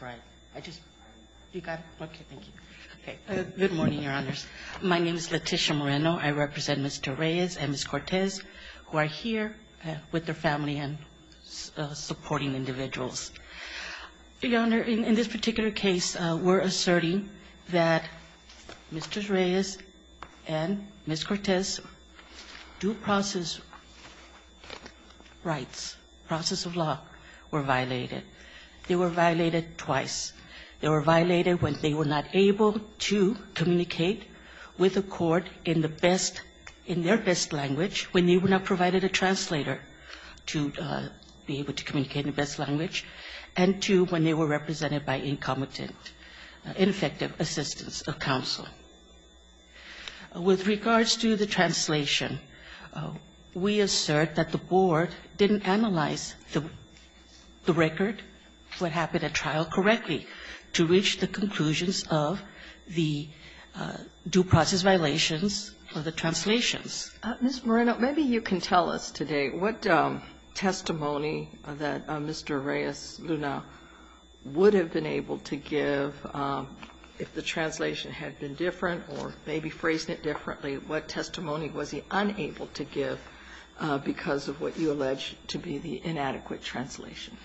My name is Leticia Moreno. I represent Mr. Reyes and Ms. Cortez, who are here with their family and supporting individuals. Your Honor, in this particular case, we're asserting that Mr. Reyes and Ms. Cortez's due process rights, process of law, were violated. They were violated twice. They were violated when they were not able to communicate with the court in the best, in their best language, when they were not provided a translator to be able to communicate in the best language, and two, when they were represented by incompetent, ineffective assistance of counsel. With regards to the translation, we assert that the Board didn't analyze the record, what happened at trial correctly, to reach the conclusions of the due process violations of the translations. Ms. Moreno, maybe you can tell us today what testimony that Mr. Reyes Luna would have been able to give if the translation had been different, or maybe phrased it differently. What testimony was he unable to give because of what you allege to be the inadequate translation?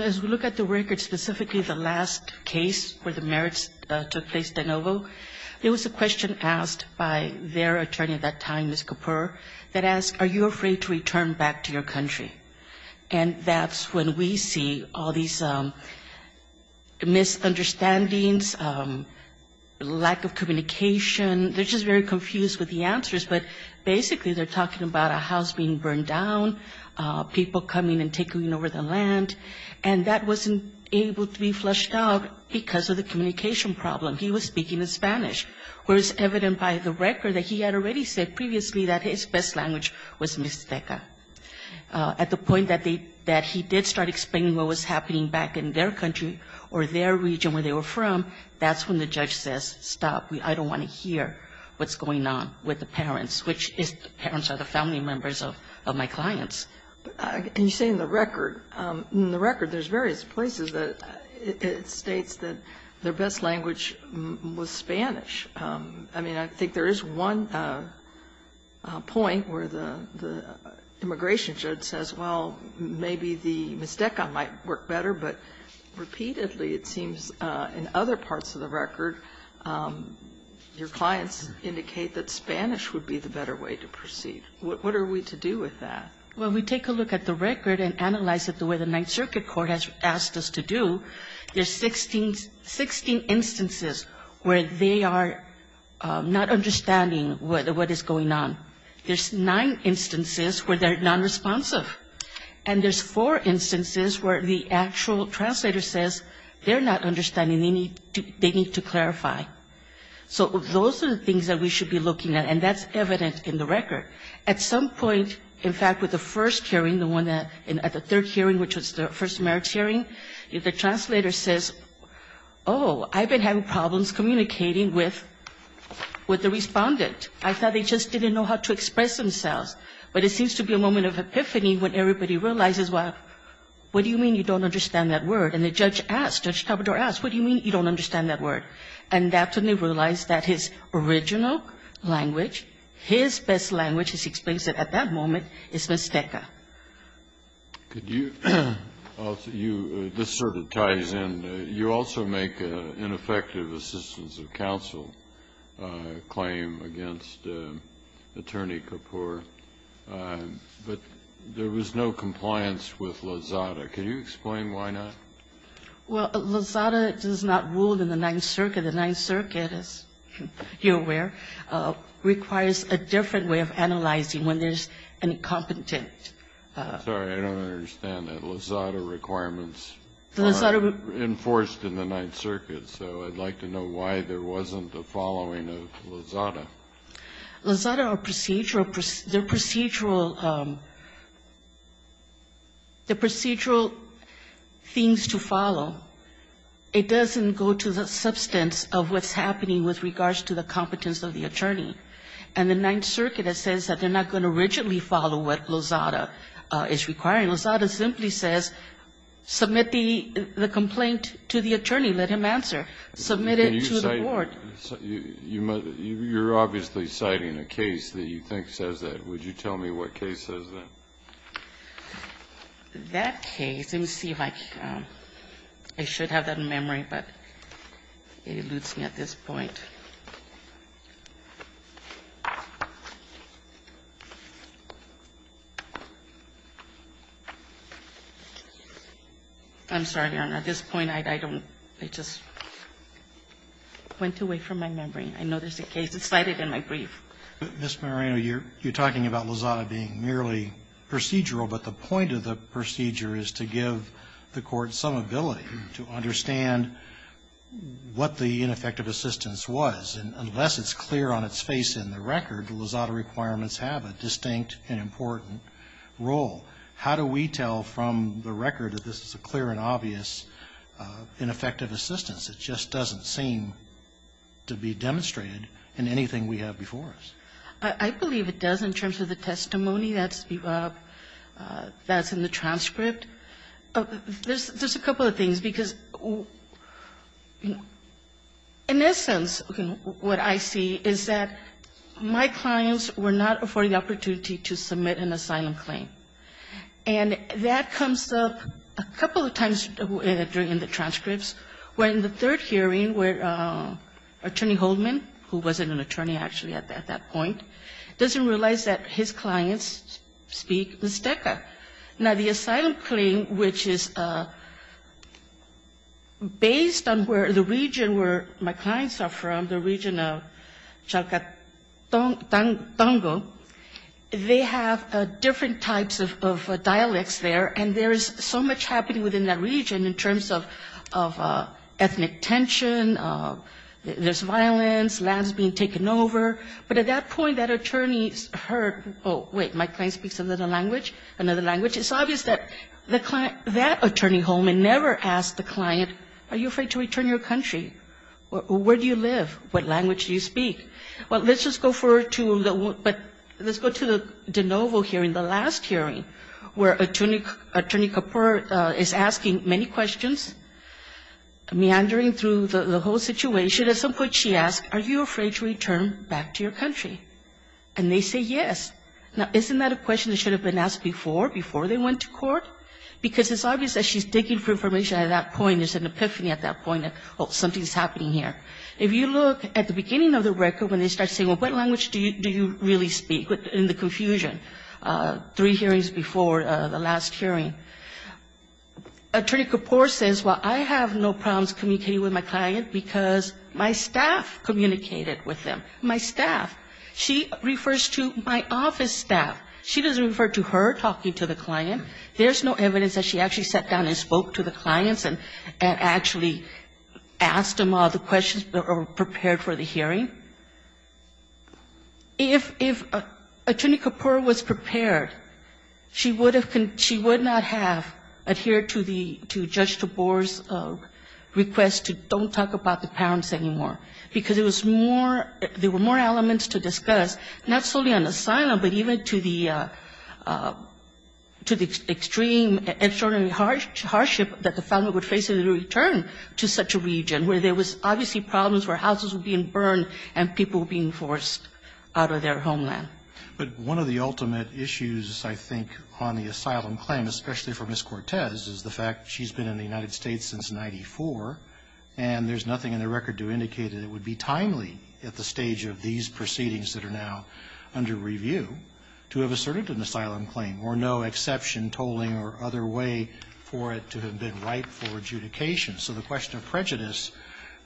As we look at the record, specifically the last case where the merits took place, De Novo, there was a question asked by their attorney at that time, Ms. Kapur, that asked, are you afraid to return back to your country? And that's when we see all these misunderstandings, lack of communication. They're just very confused with the answers, but basically they're talking about a house being burned down, people coming and taking over the land, and that wasn't able to be flushed out because of the communication problem. He was speaking in Spanish, whereas evident by the record that he had already said previously that his best language was Mixteca. At the point that he did start explaining what was happening back in their country or their region where they were from, that's when the judge says, stop. I don't want to hear what's going on with the parents, which is the parents are the family members of my clients. And you say in the record. In the record there's various places that it states that their best language was Spanish. I mean, I think there is one point where the immigration judge says, well, maybe the Mixteca might work better, but repeatedly it seems in other parts of the record your clients indicate that Spanish would be the better way to proceed. What are we to do with that? Well, we take a look at the record and analyze it the way the Ninth Circuit Court has asked us to do. There's 16 instances where they are not understanding what is going on. There's nine instances where they're nonresponsive. And there's four instances where the actual translator says they're not understanding, they need to clarify. So those are the things that we should be looking at, and that's evident in the record. At some point, in fact, with the first hearing, the one at the third hearing, which was the first merits hearing, the translator says, oh, I've been having problems communicating with the Respondent. I thought they just didn't know how to express themselves. But it seems to be a moment of epiphany when everybody realizes, well, what do you mean you don't understand that word? And the judge asked, Judge Tabador asked, what do you mean you don't understand that word? And that's when they realized that his original language, his best language, as he explains it at that moment, is Mixteca. Kennedy. This sort of ties in. You also make an ineffective assistance of counsel claim against Attorney Kapoor. But there was no compliance with Lozada. Can you explain why not? Well, Lozada does not rule in the Ninth Circuit. The Ninth Circuit, as you're aware, requires a different way of analyzing when there's an incompetent. I'm sorry. I don't understand that. Lozada requirements are enforced in the Ninth Circuit. So I'd like to know why there wasn't a following of Lozada. Lozada or procedural, the procedural, the procedural things to follow, it doesn't go to the substance of what's happening with regards to the competence of the attorney. And the Ninth Circuit, it says that they're not going to rigidly follow what Lozada is requiring. Lozada simply says, submit the complaint to the attorney. Let him answer. Submit it to the board. You're obviously citing a case that you think says that. Would you tell me what case says that? That case, let me see if I can, I should have that in memory, but it eludes me at this point. I'm sorry, Your Honor. At this point, I don't, I just went away from my memory. I know there's a case. It's cited in my brief. Ms. Moreno, you're talking about Lozada being merely procedural, but the point of the procedure is to give the court some ability to understand what the ineffective assistance was. Unless it's clear on its face in the record, Lozada requirements have a distinct and important role. How do we tell from the record that this is a clear and obvious ineffective assistance? It just doesn't seem to be demonstrated in anything we have before us. I believe it does in terms of the testimony that's in the transcript. There's a couple of things, because in essence, what I see is that my clients were not afforded the opportunity to submit an asylum claim. And that comes up a couple of times during the transcripts. When the third hearing, where Attorney Holdman, who wasn't an attorney actually at that point, doesn't realize that his clients speak Mixteca. Now, the asylum claim, which is based on where the region where my clients are from, the region of Chalcatango, they have different types of dialects there, and there's so much happening within that region in terms of ethnic tension, there's violence, lands being taken over. But at that point, that attorney heard, oh, wait, my client speaks another language, it's obvious that that attorney, Holdman, never asked the client, are you afraid to return to your country? Where do you live? What language do you speak? Well, let's just go to the de novo hearing, the last hearing, where Attorney Kapur is asking many questions, meandering through the whole situation. At some point she asks, are you afraid to return back to your country? And they say yes. Now, isn't that a question that should have been asked before, before they went to court? Because it's obvious that she's digging for information at that point, there's an epiphany at that point, oh, something's happening here. If you look at the beginning of the record when they start saying, well, what language do you really speak, in the confusion, three hearings before the last hearing. Attorney Kapur says, well, I have no problems communicating with my client, because my staff communicated with them, my staff. She refers to my office staff. She doesn't refer to her talking to the client. There's no evidence that she actually sat down and spoke to the clients and actually asked them all the questions or prepared for the hearing. If Attorney Kapur was prepared, she would have, she would not have adhered to the, to Judge DeBoer's request to don't talk about the parents anymore. Because it was more, there were more elements to discuss, not solely on asylum, but even to the, to the extreme, extraordinary hardship that the family would face in the return to such a region, where there was obviously problems where houses were being burned and people being forced out of their homeland. But one of the ultimate issues, I think, on the asylum claim, especially for Ms. Cortez, is the fact she's been in the United States since 94, and there's nothing in the record to indicate that it would be timely at the stage of these proceedings that are now under review to have asserted an asylum claim, or no exception, tolling, or other way for it to have been rightful adjudication. So the question of prejudice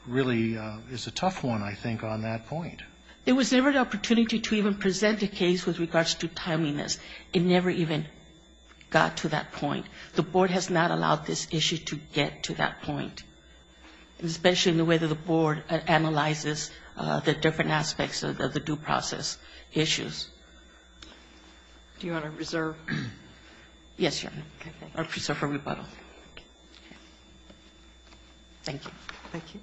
really is a tough one, I think, on that point. There was never an opportunity to even present a case with regards to timeliness. It never even got to that point. The Board has not allowed this issue to get to that point, especially in the way that the Board analyzes the different aspects of the due process issues. Do you want to reserve? Yes, Your Honor. I'll reserve for rebuttal. Thank you. Thank you.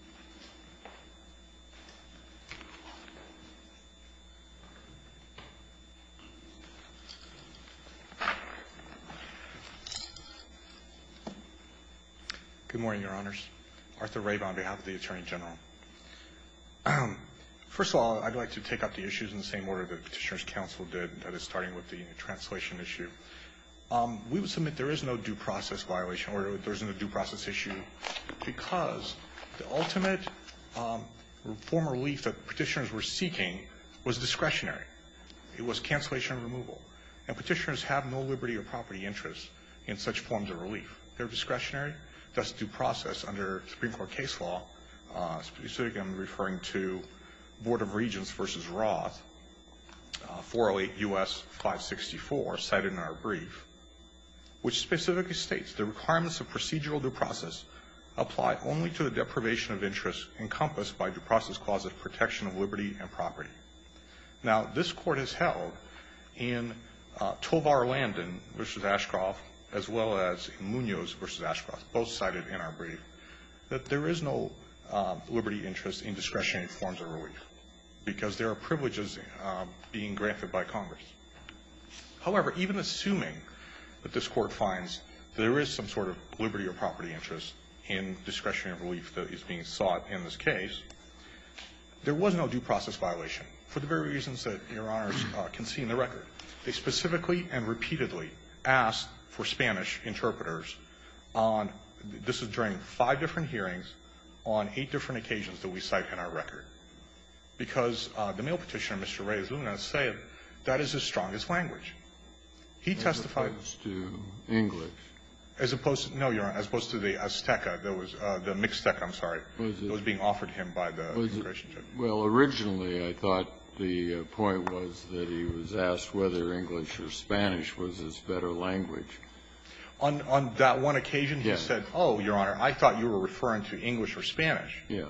Good morning, Your Honors. Arthur Rabe on behalf of the Attorney General. First of all, I'd like to take up the issues in the same order that Petitioner's counsel did, that is, starting with the translation issue. We would submit there is no due process violation, or there's no due process issue, because the ultimate form of relief that Petitioners were seeking was discretionary. It was cancellation and removal. And Petitioners have no liberty or property interest in such forms of relief. They're discretionary. That's due process under Supreme Court case law. Specifically, I'm referring to Board of Regents v. Roth, 408 U.S. 564, cited in our brief, which specifically states, the requirements of procedural due process apply only to the deprivation of interest encompassed by due process clauses of protection of liberty and property. Now, this Court has held in Tovar Landon v. Ashcroft, as well as in Munoz v. Ashcroft, both cited in our brief, that there is no liberty interest in discretionary forms of relief, because there are privileges being granted by Congress. However, even assuming that this Court finds there is some sort of liberty or property interest in discretionary relief that is being sought in this case, there was no due process violation, for the very reasons that Your Honors can see in the record. They specifically and repeatedly asked for Spanish interpreters on, this is during five different hearings, on eight different occasions that we cite in our record. Because the male Petitioner, Mr. Reyes-Luna, said that is his strongest language. He testified to English. As opposed to, no, Your Honor, as opposed to the Azteca that was, the Mixteca, I'm sorry, that was being offered him by the administration. Well, originally, I thought the point was that he was asked whether English or Spanish was his better language. On that one occasion, he said, oh, Your Honor, I thought you were referring to English or Spanish. Yes.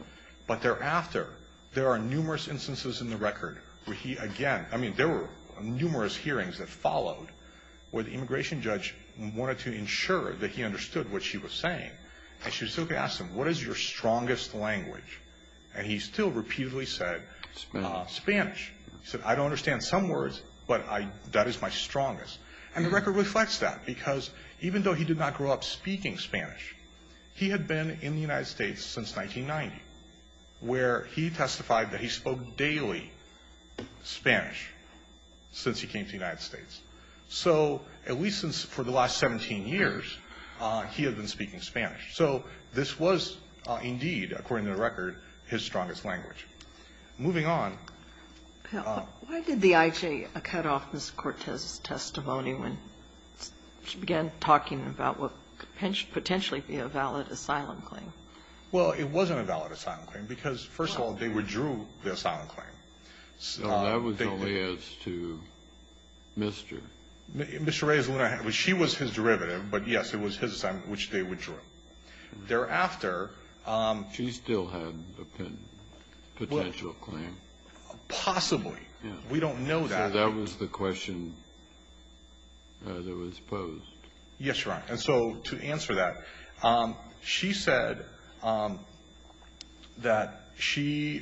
But thereafter, there are numerous instances in the record where he again, I mean, there were numerous hearings that followed where the immigration judge wanted to ensure that he understood what she was saying. And she would still ask him, what is your strongest language? And he still repeatedly said, Spanish. He said, I don't understand some words, but that is my strongest. And the record reflects that. Because even though he did not grow up speaking Spanish, he had been in the United States since 1990, where he testified that he spoke daily Spanish since he came to the United States. So at least for the last 17 years, he had been speaking Spanish. So this was indeed, according to the record, his strongest language. Moving on. Why did the IJ cut off Ms. Cortez's testimony when she began talking about what could potentially be a valid asylum claim? Well, it wasn't a valid asylum claim because, first of all, they withdrew the asylum claim. So that was only as to Mr. Mr. Reyes Luna. She was his derivative. But, yes, it was his assignment, which they withdrew it. Thereafter ---- She still had a potential claim. Possibly. We don't know that. So that was the question that was posed. Yes, Your Honor. And so to answer that, she said that she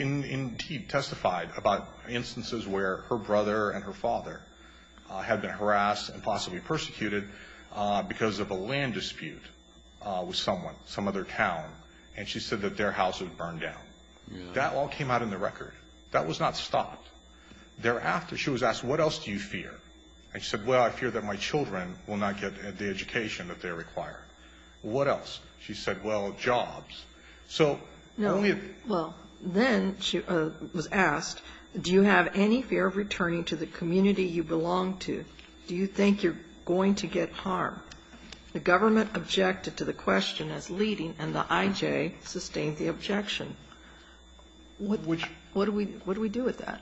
indeed testified about instances where her brother and her father had been harassed and possibly persecuted because of a land dispute with someone, some other town. And she said that their house was burned down. That all came out in the record. That was not stopped. Thereafter, she was asked, what else do you fear? And she said, well, I fear that my children will not get the education that they require. What else? She said, well, jobs. So only if ---- No. Well, then she was asked, do you have any fear of returning to the community you belong to? Do you think you're going to get harm? The government objected to the question as leading, and the IJ sustained the objection. What do we do with that?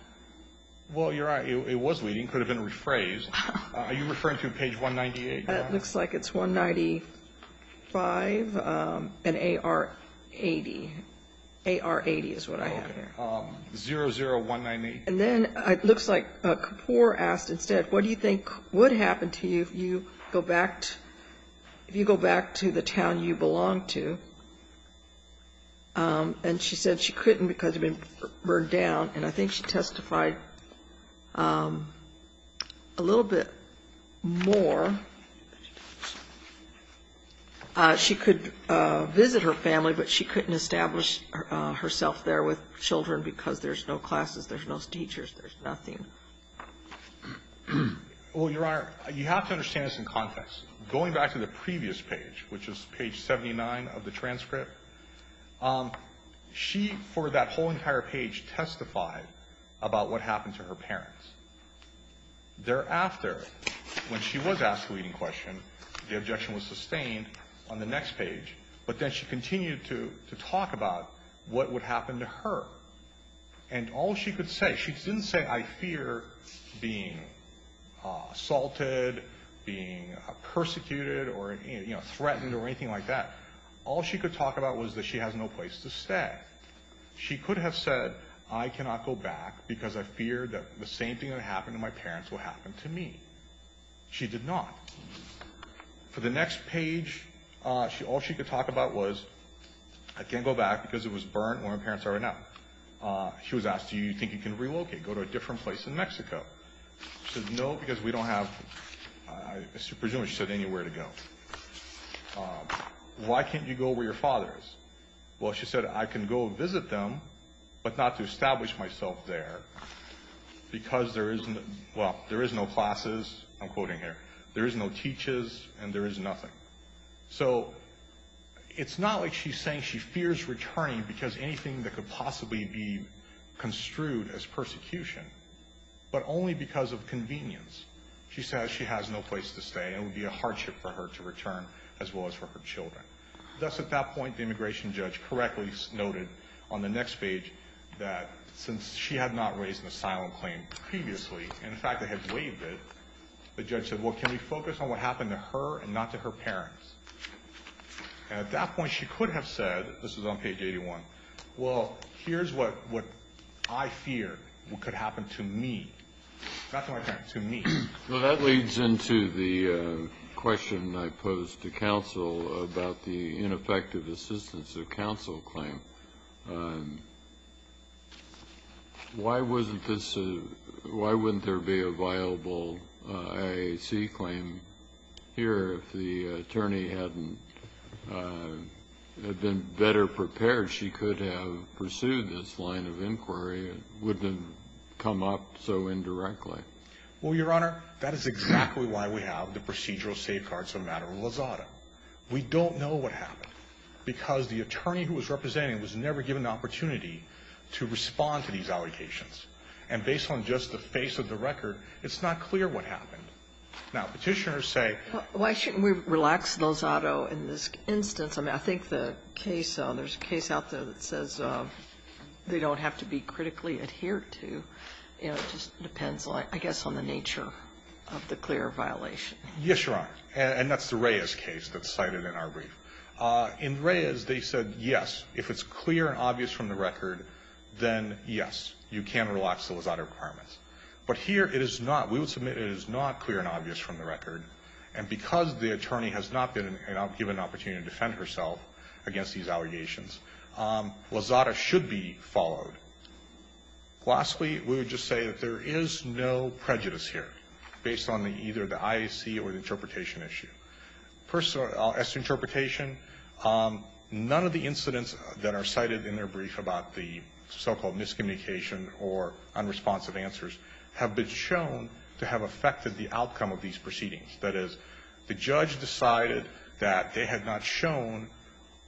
Well, Your Honor, it was leading. It could have been rephrased. Are you referring to page 198, Your Honor? It looks like it's 195 and AR80. AR80 is what I have here. Okay. 00198. And then it looks like Kapor asked instead, what do you think would happen to you if you go back to the town you belong to? And she said she couldn't because it had been burned down. And I think she testified a little bit more. She could visit her family, but she couldn't establish herself there with children because there's no classes, there's no teachers, there's nothing. Well, Your Honor, you have to understand this in context. Going back to the previous page, which is page 79 of the transcript, she, for that whole entire page, testified about what happened to her parents. Thereafter, when she was asked the leading question, the objection was sustained on the next page. But then she continued to talk about what would happen to her. And all she could say, she didn't say, I fear being assaulted, being persecuted or threatened or anything like that. All she could talk about was that she has no place to stay. She could have said, I cannot go back because I fear that the same thing that happened to my parents will happen to me. She did not. For the next page, all she could talk about was, I can't go back because it was burnt where my parents are now. She was asked, do you think you can relocate, go to a different place in Mexico? She said, no, because we don't have, I presume she said anywhere to go. Why can't you go where your father is? Well, she said, I can go visit them, but not to establish myself there because there is no, well, there is no classes, I'm quoting here. There is no teachers and there is nothing. So it's not like she's saying she fears returning because anything that could possibly be construed as persecution, but only because of convenience. She says she has no place to stay. It would be a hardship for her to return as well as for her children. Thus, at that point, the immigration judge correctly noted on the next page that since she had not raised an asylum claim previously, in fact, they had waived it, the judge said, well, can we focus on what happened to her and not to her parents? And at that point, she could have said, this was on page 81, well, here's what I feared could happen to me, not to my parents, to me. Well, that leads into the question I posed to counsel about the ineffective assistance of counsel claim. Why wasn't this, why wouldn't there be a viable IAC claim here if the attorney hadn't been better prepared? She could have pursued this line of inquiry. It wouldn't have come up so indirectly. Well, Your Honor, that is exactly why we have the procedural safeguards of a matter of Lozado. We don't know what happened because the attorney who was representing was never given the opportunity to respond to these allocations. And based on just the face of the record, it's not clear what happened. Now, Petitioners say why shouldn't we relax Lozado in this instance? I mean, I think the case, there's a case out there that says they don't have to be critically adhered to. You know, it just depends, I guess, on the nature of the clear violation. Yes, Your Honor. And that's the Reyes case that's cited in our brief. In Reyes, they said, yes, if it's clear and obvious from the record, then yes, you can relax the Lozado requirements. But here it is not. We would submit it is not clear and obvious from the record. And because the attorney has not been given an opportunity to defend herself against these allegations, Lozado should be followed. Lastly, we would just say that there is no prejudice here based on either the IAC or the interpretation issue. As to interpretation, none of the incidents that are cited in their brief about the so-called miscommunication or unresponsive answers have been shown to have affected the outcome of these proceedings. That is, the judge decided that they had not shown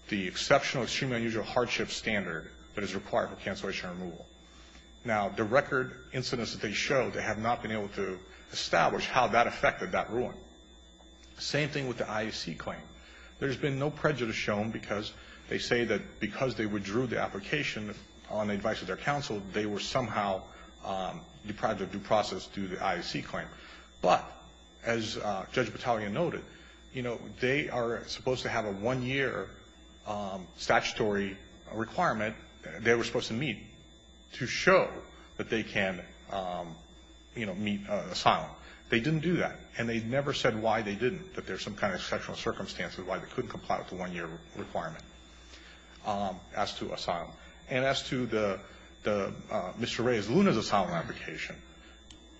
the exceptional, extremely unusual hardship standard that is required for cancellation and removal. Now, the record incidents that they showed, they have not been able to establish how that affected that ruling. Same thing with the IAC claim. There has been no prejudice shown because they say that because they withdrew the application on the advice of their counsel, they were somehow deprived of due process due to the IAC claim. But as Judge Battaglia noted, you know, they are supposed to have a one-year statutory requirement they were supposed to meet to show that they can, you know, meet asylum. They didn't do that, and they never said why they didn't, that there's some kind of exceptional circumstances why they couldn't comply with the one-year requirement as to asylum. And as to Mr. Ray's Luna's asylum application,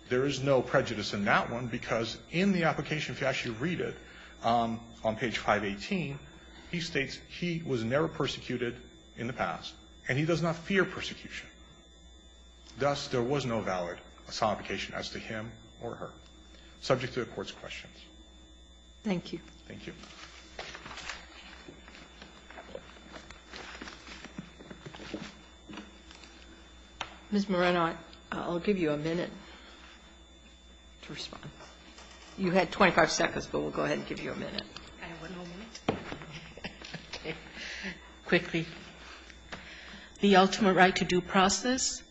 there is no prejudice in that one because in the application, if you actually read it on page 518, he states he was never persecuted in the past, and he does not fear persecution. Thus, there was no valid asylum application as to him or her. Subject to the Court's questions. Thank you. Thank you. Ms. Moreno, I'll give you a minute to respond. You had 25 seconds, but we'll go ahead and give you a minute. I have one more minute. Okay. Quickly. The ultimate right to due process,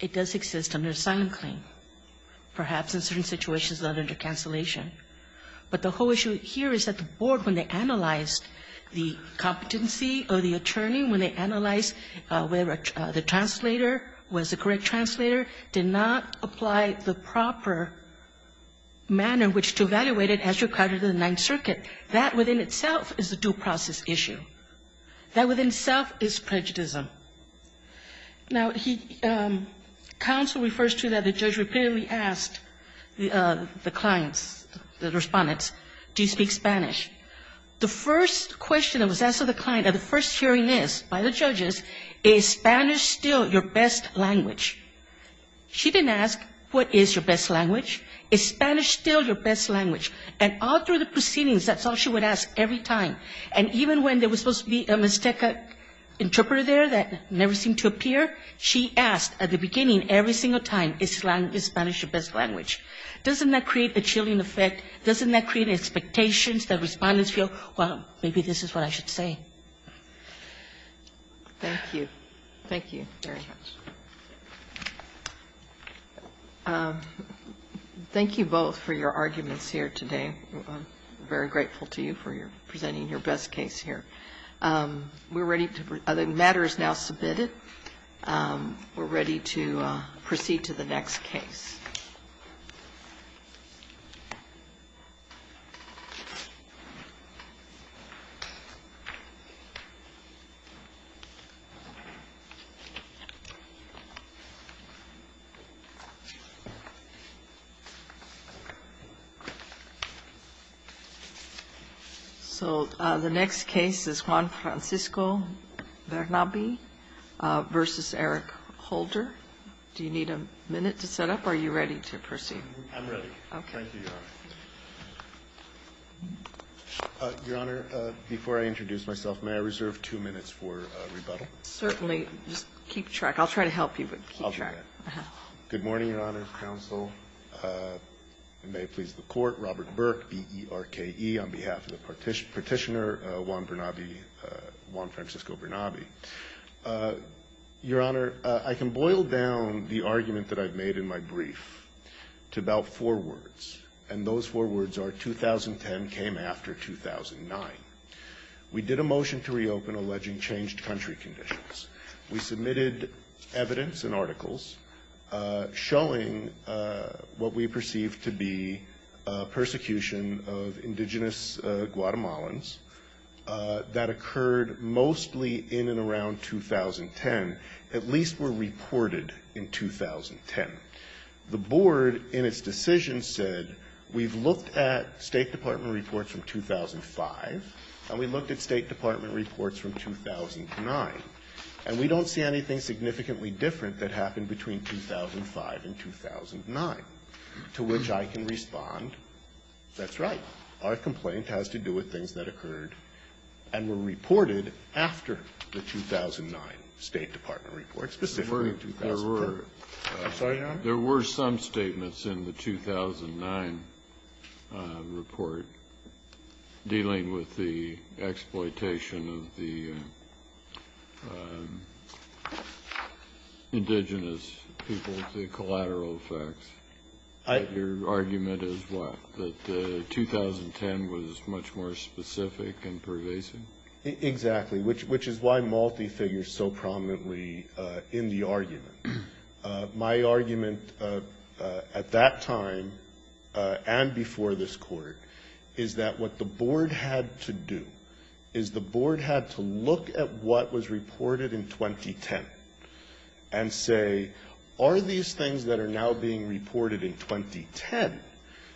it does exist under asylum claim, perhaps in certain situations not under cancellation. But the whole issue here is that the Board, when they analyzed the competency of the attorney, when they analyzed whether the translator was the correct translator, did not apply the proper manner in which to evaluate it as required in the Ninth Circuit. That within itself is a due process issue. That within itself is prejudice. Now, counsel refers to that the judge repeatedly asked the clients, the respondents, do you speak Spanish? The first question that was asked of the client at the first hearing is, by the judges, is Spanish still your best language? She didn't ask what is your best language. Is Spanish still your best language? And all through the proceedings, that's all she would ask every time. And even when there was supposed to be a mistaken interpreter there that never seemed to appear, she asked at the beginning every single time, is Spanish your best language? Doesn't that create a chilling effect? Doesn't that create expectations that respondents feel, well, maybe this is what I should say? Thank you. Thank you very much. Thank you both for your arguments here today. I'm very grateful to you for presenting your best case here. We're ready to go. The matter is now submitted. We're ready to proceed to the next case. So the next case is Juan Francisco Bernabe versus Eric Holder. Do you need a minute to set up, or are you ready to proceed? I'm ready. Thank you, Your Honor. Your Honor, before I introduce myself, may I reserve two minutes for rebuttal? Certainly. Just keep track. I'll do that. Good morning, Your Honor, counsel, and may it please the Court. Robert Burke, B-E-R-K-E, on behalf of the Petitioner, Juan Bernabe, Juan Francisco Bernabe. Your Honor, I can boil down the argument that I've made in my brief to about four words, and those four words are 2010 came after 2009. We did a motion to reopen alleging changed country conditions. We submitted evidence and articles showing what we perceived to be persecution of indigenous Guatemalans. That occurred mostly in and around 2010, at least were reported in 2010. The Board, in its decision, said we've looked at State Department reports from 2009, and we don't see anything significantly different that happened between 2005 and 2009, to which I can respond, that's right. Our complaint has to do with things that occurred and were reported after the 2009 State Department report, specifically in 2003. I'm sorry, Your Honor? There were some statements in the 2009 report dealing with the exploitation of the indigenous people, the collateral effects. Your argument is what? That 2010 was much more specific and pervasive? Exactly, which is why multi-figures so prominently in the argument. My argument at that time and before this Court is that what the Board had to do is the Board had to look at what was reported in 2010 and say, are these things that are now being reported in 2010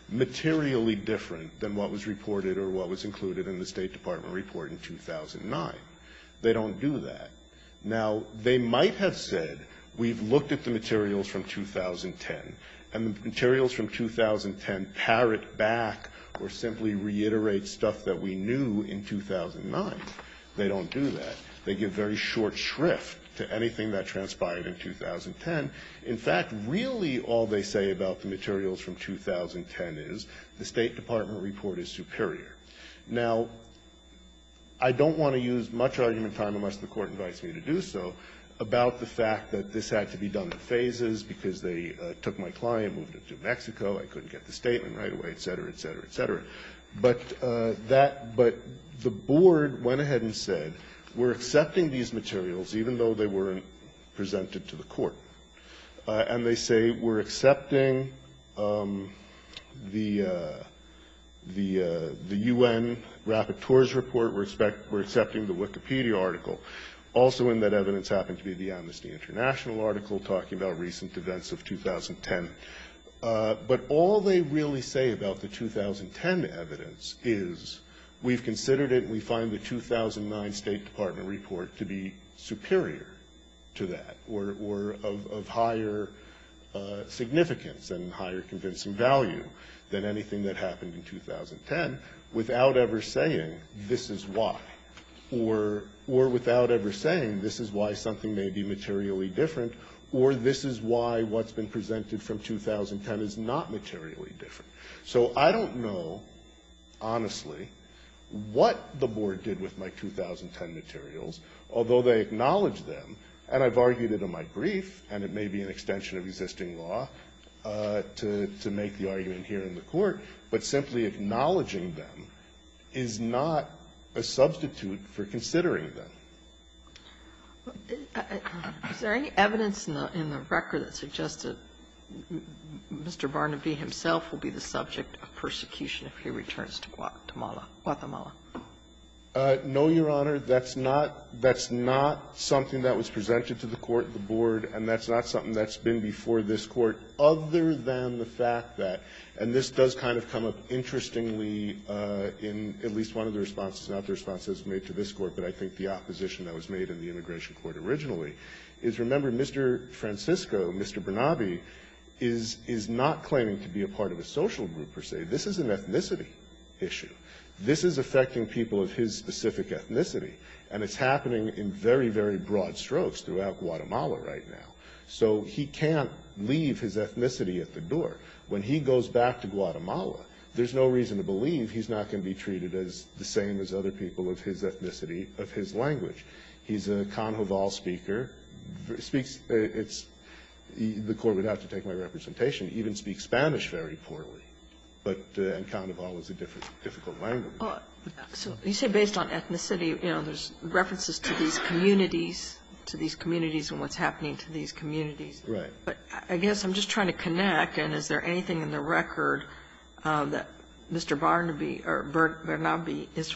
materially different than what was reported or what was included in the State Department report in 2009? They don't do that. Now, they might have said we've looked at the materials from 2010, and the materials from 2010 parrot back or simply reiterate stuff that we knew in 2009. They don't do that. They give very short shrift to anything that transpired in 2010. In fact, really all they say about the materials from 2010 is the State Department report is superior. Now, I don't want to use much argument time, unless the Court invites me to do so, about the fact that this had to be done in phases because they took my client, moved him to Mexico, I couldn't get the statement right away, et cetera, et cetera, et cetera. But that the Board went ahead and said we're accepting these materials, even though they weren't presented to the Court. And they say we're accepting the U.N. report, we're accepting the Wikipedia article. Also in that evidence happened to be the Amnesty International article talking about recent events of 2010. But all they really say about the 2010 evidence is we've considered it and we find the 2009 State Department report to be superior to that or of higher significance and higher convincing value than anything that happened in 2010 without ever saying this is why, or without ever saying this is why something may be materially different, or this is why what's been presented from 2010 is not materially different. So I don't know, honestly, what the Board did with my 2010 materials, although they acknowledge them, and I've argued it in my brief, and it may be an extension of existing law to make the argument here in the Court. But simply acknowledging them is not a substitute for considering them. Is there any evidence in the record that suggests that Mr. Barnaby himself will be the subject of persecution if he returns to Guatemala? No, Your Honor. That's not something that was presented to the Court, the Board, and that's not something that's been before this Court other than the fact that, and this does kind of come up interestingly in at least one of the responses, not the responses made to this Court, but I think the opposition that was made in the Immigration Court originally, is, remember, Mr. Francisco, Mr. Barnaby, is not claiming to be a part of a social group, per se. This is an ethnicity issue. This is affecting people of his specific ethnicity, and it's happening in very, very broad strokes throughout Guatemala right now. So he can't leave his ethnicity at the door. When he goes back to Guatemala, there's no reason to believe he's not going to be treated as the same as other people of his ethnicity, of his language. He's a Canoval speaker, speaks the Court would have to take my representation, even speaks Spanish very poorly, but Canoval is a difficult language. Kagan. So you say based on ethnicity, you know, there's references to these communities, to these communities and what's happening to these communities. Right. But I guess I'm just trying to connect, and is there anything in the record that Mr. Barnaby or Bert Barnaby is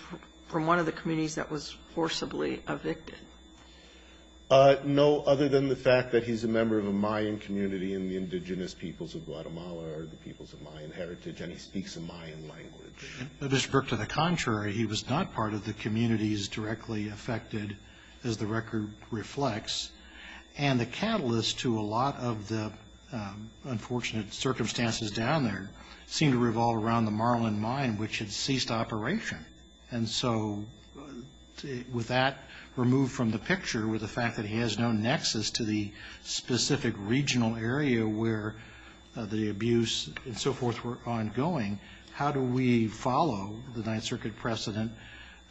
from one of the communities that was forcibly evicted? No, other than the fact that he's a member of a Mayan community in the indigenous peoples of Guatemala or the peoples of Mayan heritage, and he speaks a Mayan language. Mr. Brook, to the contrary, he was not part of the communities directly affected, as the record reflects. And the catalyst to a lot of the unfortunate circumstances down there seemed to revolve around the Marlin mine, which had ceased operation. And so with that removed from the picture, with the fact that he has no nexus to the follow, the Ninth Circuit precedent,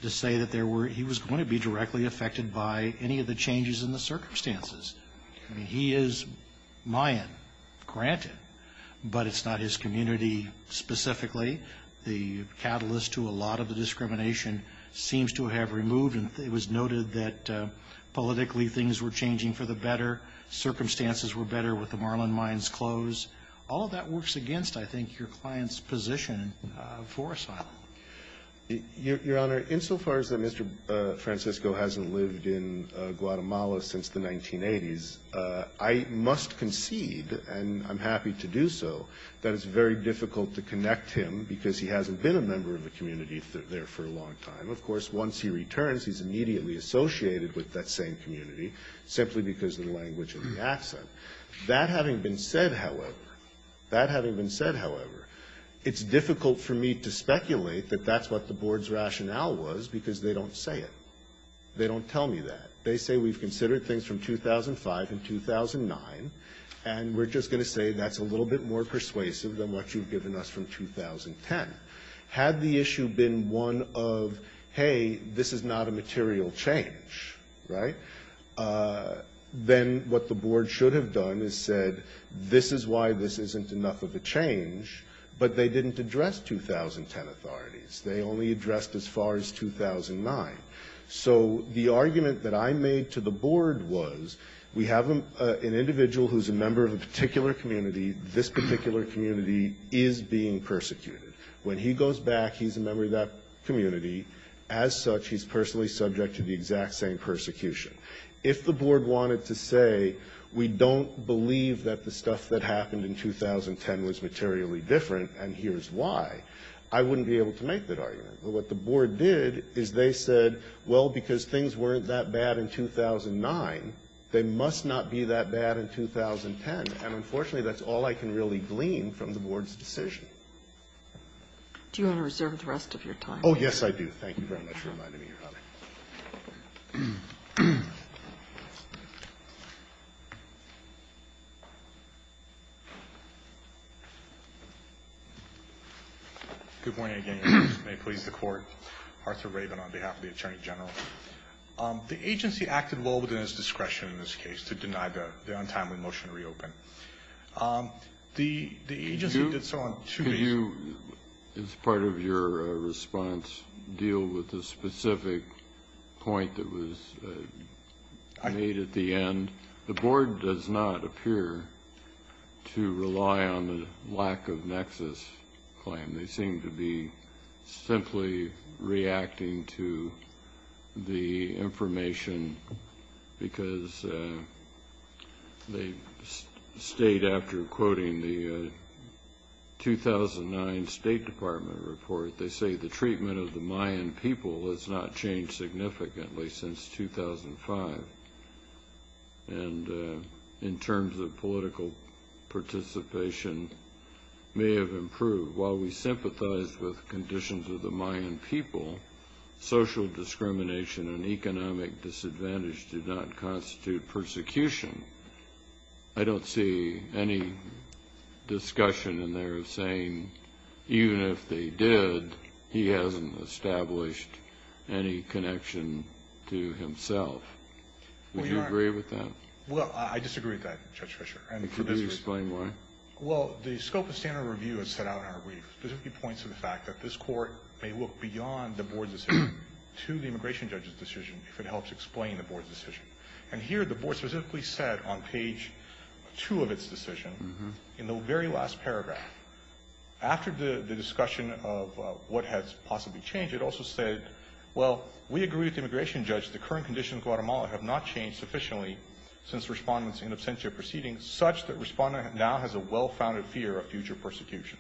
to say that he was going to be directly affected by any of the changes in the circumstances. He is Mayan, granted, but it's not his community specifically. The catalyst to a lot of the discrimination seems to have removed, and it was noted that politically things were changing for the better. Circumstances were better with the Marlin mines closed. All of that works against, I think, your client's position for asylum. Your Honor, insofar as that Mr. Francisco hasn't lived in Guatemala since the 1980s, I must concede, and I'm happy to do so, that it's very difficult to connect him because he hasn't been a member of a community there for a long time. Of course, once he returns, he's immediately associated with that same community simply because of the language and the accent. That having been said, however, that having been said, however, it's difficult for me to speculate that that's what the board's rationale was because they don't say it. They don't tell me that. They say we've considered things from 2005 and 2009, and we're just going to say that's a little bit more persuasive than what you've given us from 2010. Had the issue been one of, hey, this is not a material change, right, then what the board should have done is said this is why this isn't enough of a change, but they didn't address 2010 authorities. They only addressed as far as 2009. So the argument that I made to the board was we have an individual who's a member of a particular community. This particular community is being persecuted. When he goes back, he's a member of that community. As such, he's personally subject to the exact same persecution. If the board wanted to say we don't believe that the stuff that happened in 2010 was materially different and here's why, I wouldn't be able to make that argument. But what the board did is they said, well, because things weren't that bad in 2009, they must not be that bad in 2010. And unfortunately, that's all I can really glean from the board's decision. Kagan. Do you want to reserve the rest of your time? Thank you very much for reminding me, Your Honor. Thank you. Good morning again, Your Honor. May it please the Court. Arthur Raven on behalf of the Attorney General. The agency acted well within its discretion in this case to deny the untimely motion to reopen. The agency did so on two bases. As part of your response, deal with the specific point that was made at the end. The board does not appear to rely on the lack of nexus claim. They seem to be simply reacting to the information because they state, after quoting the 2009 State Department report, they say the treatment of the Mayan people has not changed significantly since 2005. And in terms of political participation, may have improved. While we sympathize with conditions of the Mayan people, social discrimination and economic disadvantage do not constitute persecution. I don't see any discussion in there of saying even if they did, he hasn't established any connection to himself. Would you agree with that? Well, I disagree with that, Judge Fischer. And for this reason. Could you explain why? Well, the scope of standard review is set out in our brief, specifically points to the fact that this court may look beyond the board's decision to the immigration judge's decision if it helps explain the board's decision. And here the board specifically said on page 2 of its decision, in the very last paragraph, after the discussion of what has possibly changed, it also said, well, we agree with the immigration judge the current conditions of Guatemala have not changed sufficiently since Respondent's in absentia proceedings, such that Respondent now has a well-founded fear of future persecution.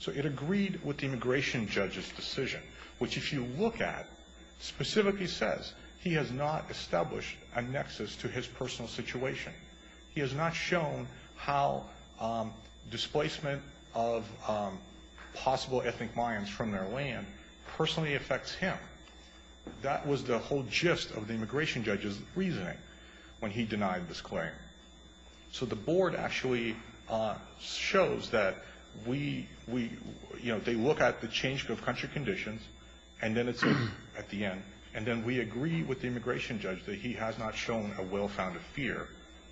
So it agreed with the immigration judge's decision, which if you look at, specifically says he has not established a nexus to his personal situation. He has not shown how displacement of possible ethnic Mayans from their land personally affects him. That was the whole gist of the immigration judge's reasoning when he denied this claim. So the board actually shows that we, you know, they look at the change of country conditions, and then it's at the end, and then we agree with the immigration judge that he has not shown a well-founded fear,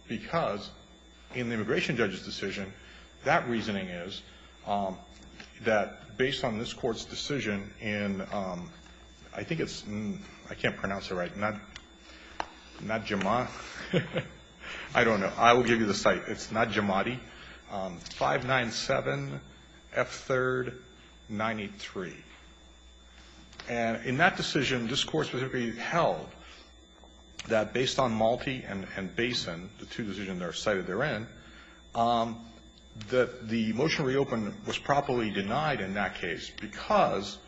because in the immigration judge's decision, that reasoning is that based on this Court's decision in, I think it's, I can't pronounce it right, not Jamadi. I don't know. I will give you the site. It's not Jamadi. 597 F3rd 93. And in that decision, this Court specifically held that based on Malti and Basin, the two decisions that are cited therein, that the motion to reopen was properly denied in that case because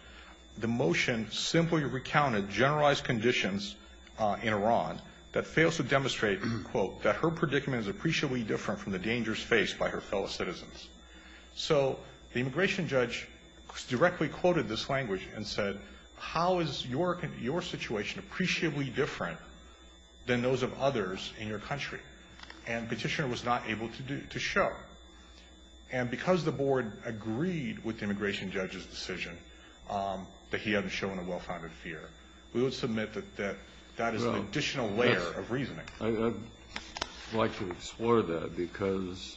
the motion simply recounted generalized conditions in Iran that fails to demonstrate, quote, that her predicament is appreciably different from the dangers faced by her fellow citizens. So the immigration judge directly quoted this language and said, how is your situation appreciably different than those of others in your country? And Petitioner was not able to show. And because the board agreed with the immigration judge's decision that he hadn't shown a well-founded fear, we would submit that that is an additional layer of reasoning. I'd like to explore that, because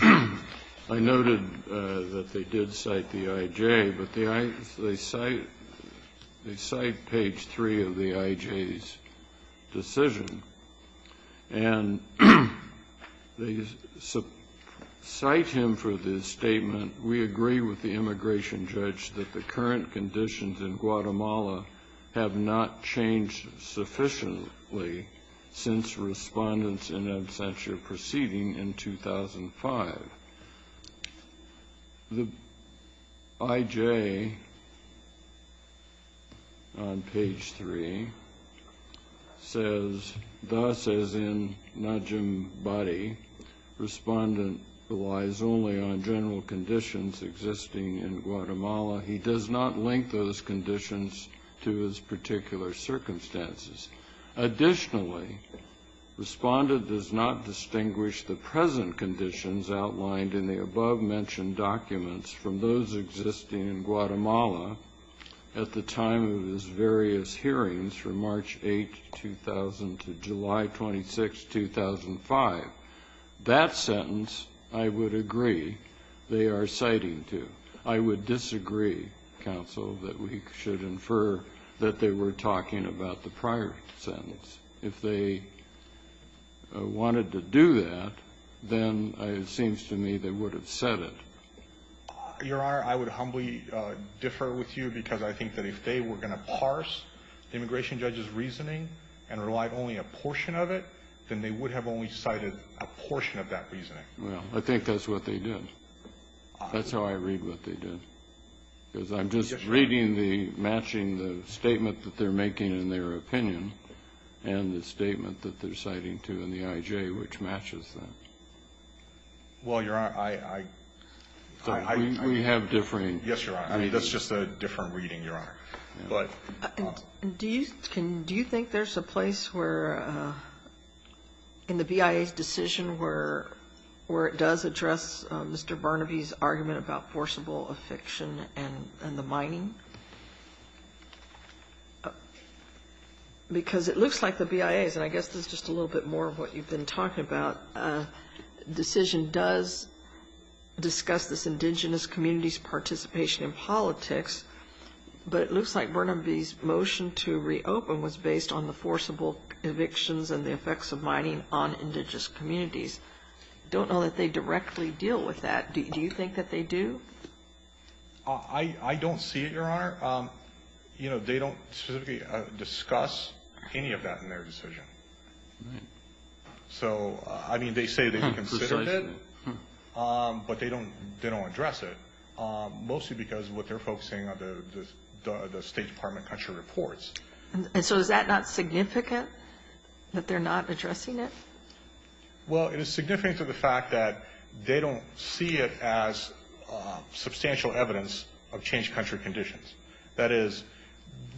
I noted that they did cite the IJ, but they cite page 3 of the IJ's decision. And they cite him for this statement, we agree with the immigration judge that the current conditions in Guatemala have not changed sufficiently since respondents in absentia proceeding in 2005. The IJ, on page 3, says, thus as in Najam Bari, respondent relies only on general conditions existing in Guatemala. He does not link those conditions to his particular circumstances. Additionally, respondent does not distinguish the present conditions outlined in the above-mentioned documents from those existing in Guatemala at the time of his various hearings from March 8, 2000 to July 26, 2005. That sentence I would agree they are citing to. I would disagree, counsel, that we should infer that they were talking about the prior sentence. If they wanted to do that, then it seems to me they would have said it. Your Honor, I would humbly differ with you, because I think that if they were going to parse the immigration judge's reasoning and rely only a portion of it, then they would have only cited a portion of that reasoning. Well, I think that's what they did. That's how I read what they did. Because I'm just reading the matching the statement that they're making in their opinion and the statement that they're citing to in the IJ, which matches that. Well, Your Honor, I — We have differing — Yes, Your Honor. I mean, that's just a different reading, Your Honor. But — Do you think there's a place where, in the BIA's decision, where it does address Mr. Burnaby's argument about forcible eviction and the mining? Because it looks like the BIA's, and I guess this is just a little bit more of what you've been talking about, decision does discuss this indigenous community's participation in politics, but it looks like Burnaby's motion to reopen was based on the forcible evictions and the effects of mining on indigenous communities. I don't know that they directly deal with that. Do you think that they do? I don't see it, Your Honor. You know, they don't specifically discuss any of that in their decision. Right. So, I mean, they say they consider it, but they don't address it, mostly because of what they're focusing on the State Department country reports. And so is that not significant, that they're not addressing it? Well, it is significant to the fact that they don't see it as substantial evidence of changed country conditions. That is,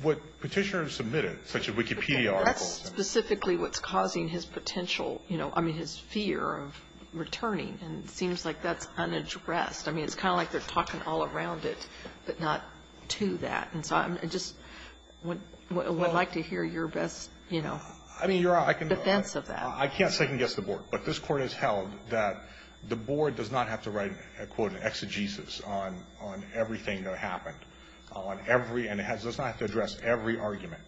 what petitioners submitted, such as Wikipedia articles — But that's specifically what's causing his potential, you know, I mean, his fear of returning, and it seems like that's unaddressed. I mean, it's kind of like they're talking all around it, but not to that. And so I just would like to hear your best, you know, defense of that. I mean, Your Honor, I can't second-guess the Board, but this Court has held that the Board does not have to write, quote, an exegesis on everything that happened, on every — and it does not have to address every argument.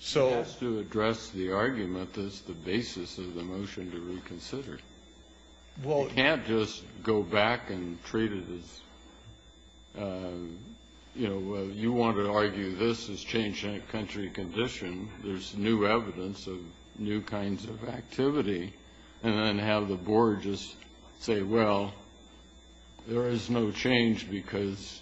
So — It has to address the argument that's the basis of the motion to reconsider. Well — You can't just go back and treat it as, you know, you want to argue this is changed country condition. There's new evidence of new kinds of activity, and then have the Board just say, well, there is no change because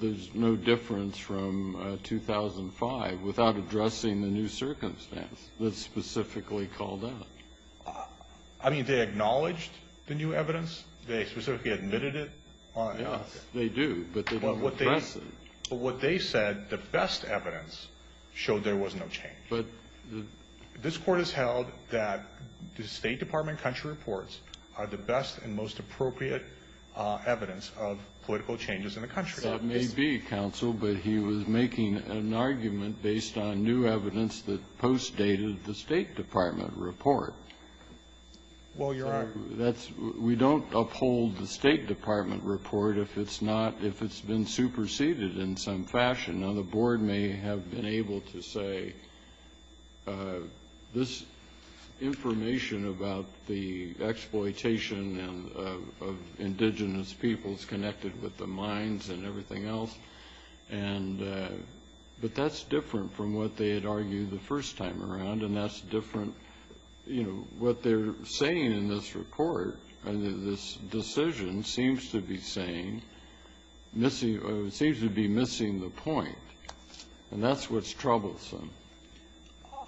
there's no difference from 2005 without addressing the new circumstance that's specifically called out. I mean, they acknowledged the new evidence? They specifically admitted it? Yes, they do, but they don't address it. But what they said, the best evidence, showed there was no change. But the — This Court has held that the State Department country reports are the best and most appropriate evidence of political changes in the country. That may be, counsel, but he was making an argument based on new evidence that postdated the State Department report. Well, Your Honor — We don't uphold the State Department report if it's not — if it's been superseded in some fashion. Now, the Board may have been able to say, this information about the exploitation of indigenous peoples connected with the mines and everything else, and — but that's different from what they had argued the first time around, and that's different — you This decision seems to be saying — seems to be missing the point, and that's what's troublesome.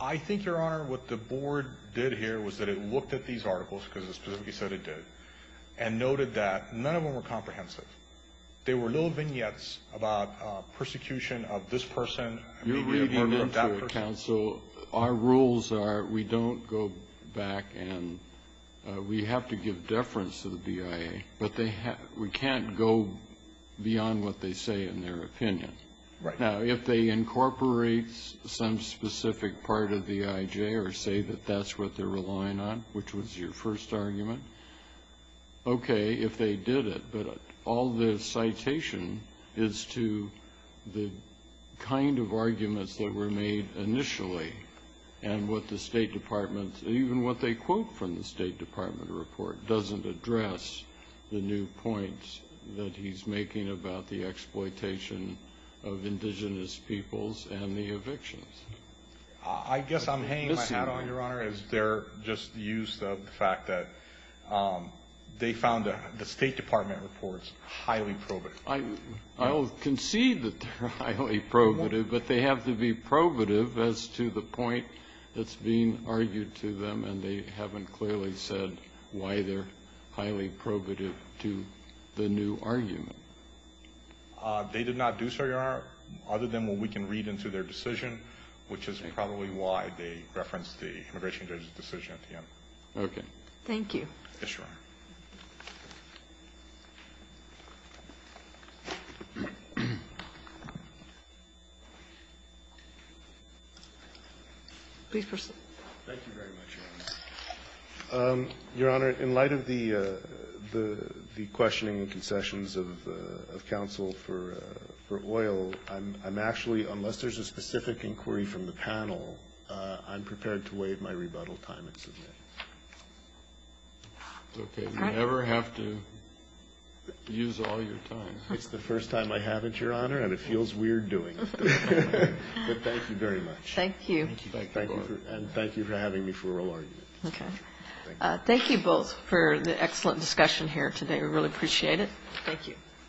I think, Your Honor, what the Board did here was that it looked at these articles because it specifically said it did, and noted that none of them were comprehensive. They were little vignettes about persecution of this person and the murder of that person. Counsel, our rules are we don't go back and — we have to give deference to the BIA, but they have — we can't go beyond what they say in their opinion. Right. Now, if they incorporate some specific part of the IJ or say that that's what they're relying on, which was your first argument, okay, if they did it. But all the citation is to the kind of arguments that were made initially, and what the State Department — even what they quote from the State Department report doesn't address the new points that he's making about the exploitation of indigenous peoples and the evictions. I guess I'm hanging my hat on, Your Honor, is their just use of the fact that they found the State Department reports highly probative. I'll concede that they're highly probative, but they have to be probative as to the point that's being argued to them, and they haven't clearly said why they're highly probative to the new argument. They did not do so, Your Honor, other than what we can read into their decision, which is probably why they referenced the immigration judge's decision at the end. Okay. Thank you. Yes, Your Honor. Please proceed. Thank you very much, Your Honor. Your Honor, in light of the questioning and concessions of counsel for oil, I'm actually — unless there's a specific inquiry from the panel, I'm prepared to waive my rebuttal time and submit. All right. You never have to use all your time. It's the first time I haven't, Your Honor, and it feels weird doing it. But thank you very much. Thank you. Thank you both. And thank you for having me for a role argument. Okay. Thank you both for the excellent discussion here today. We really appreciate it.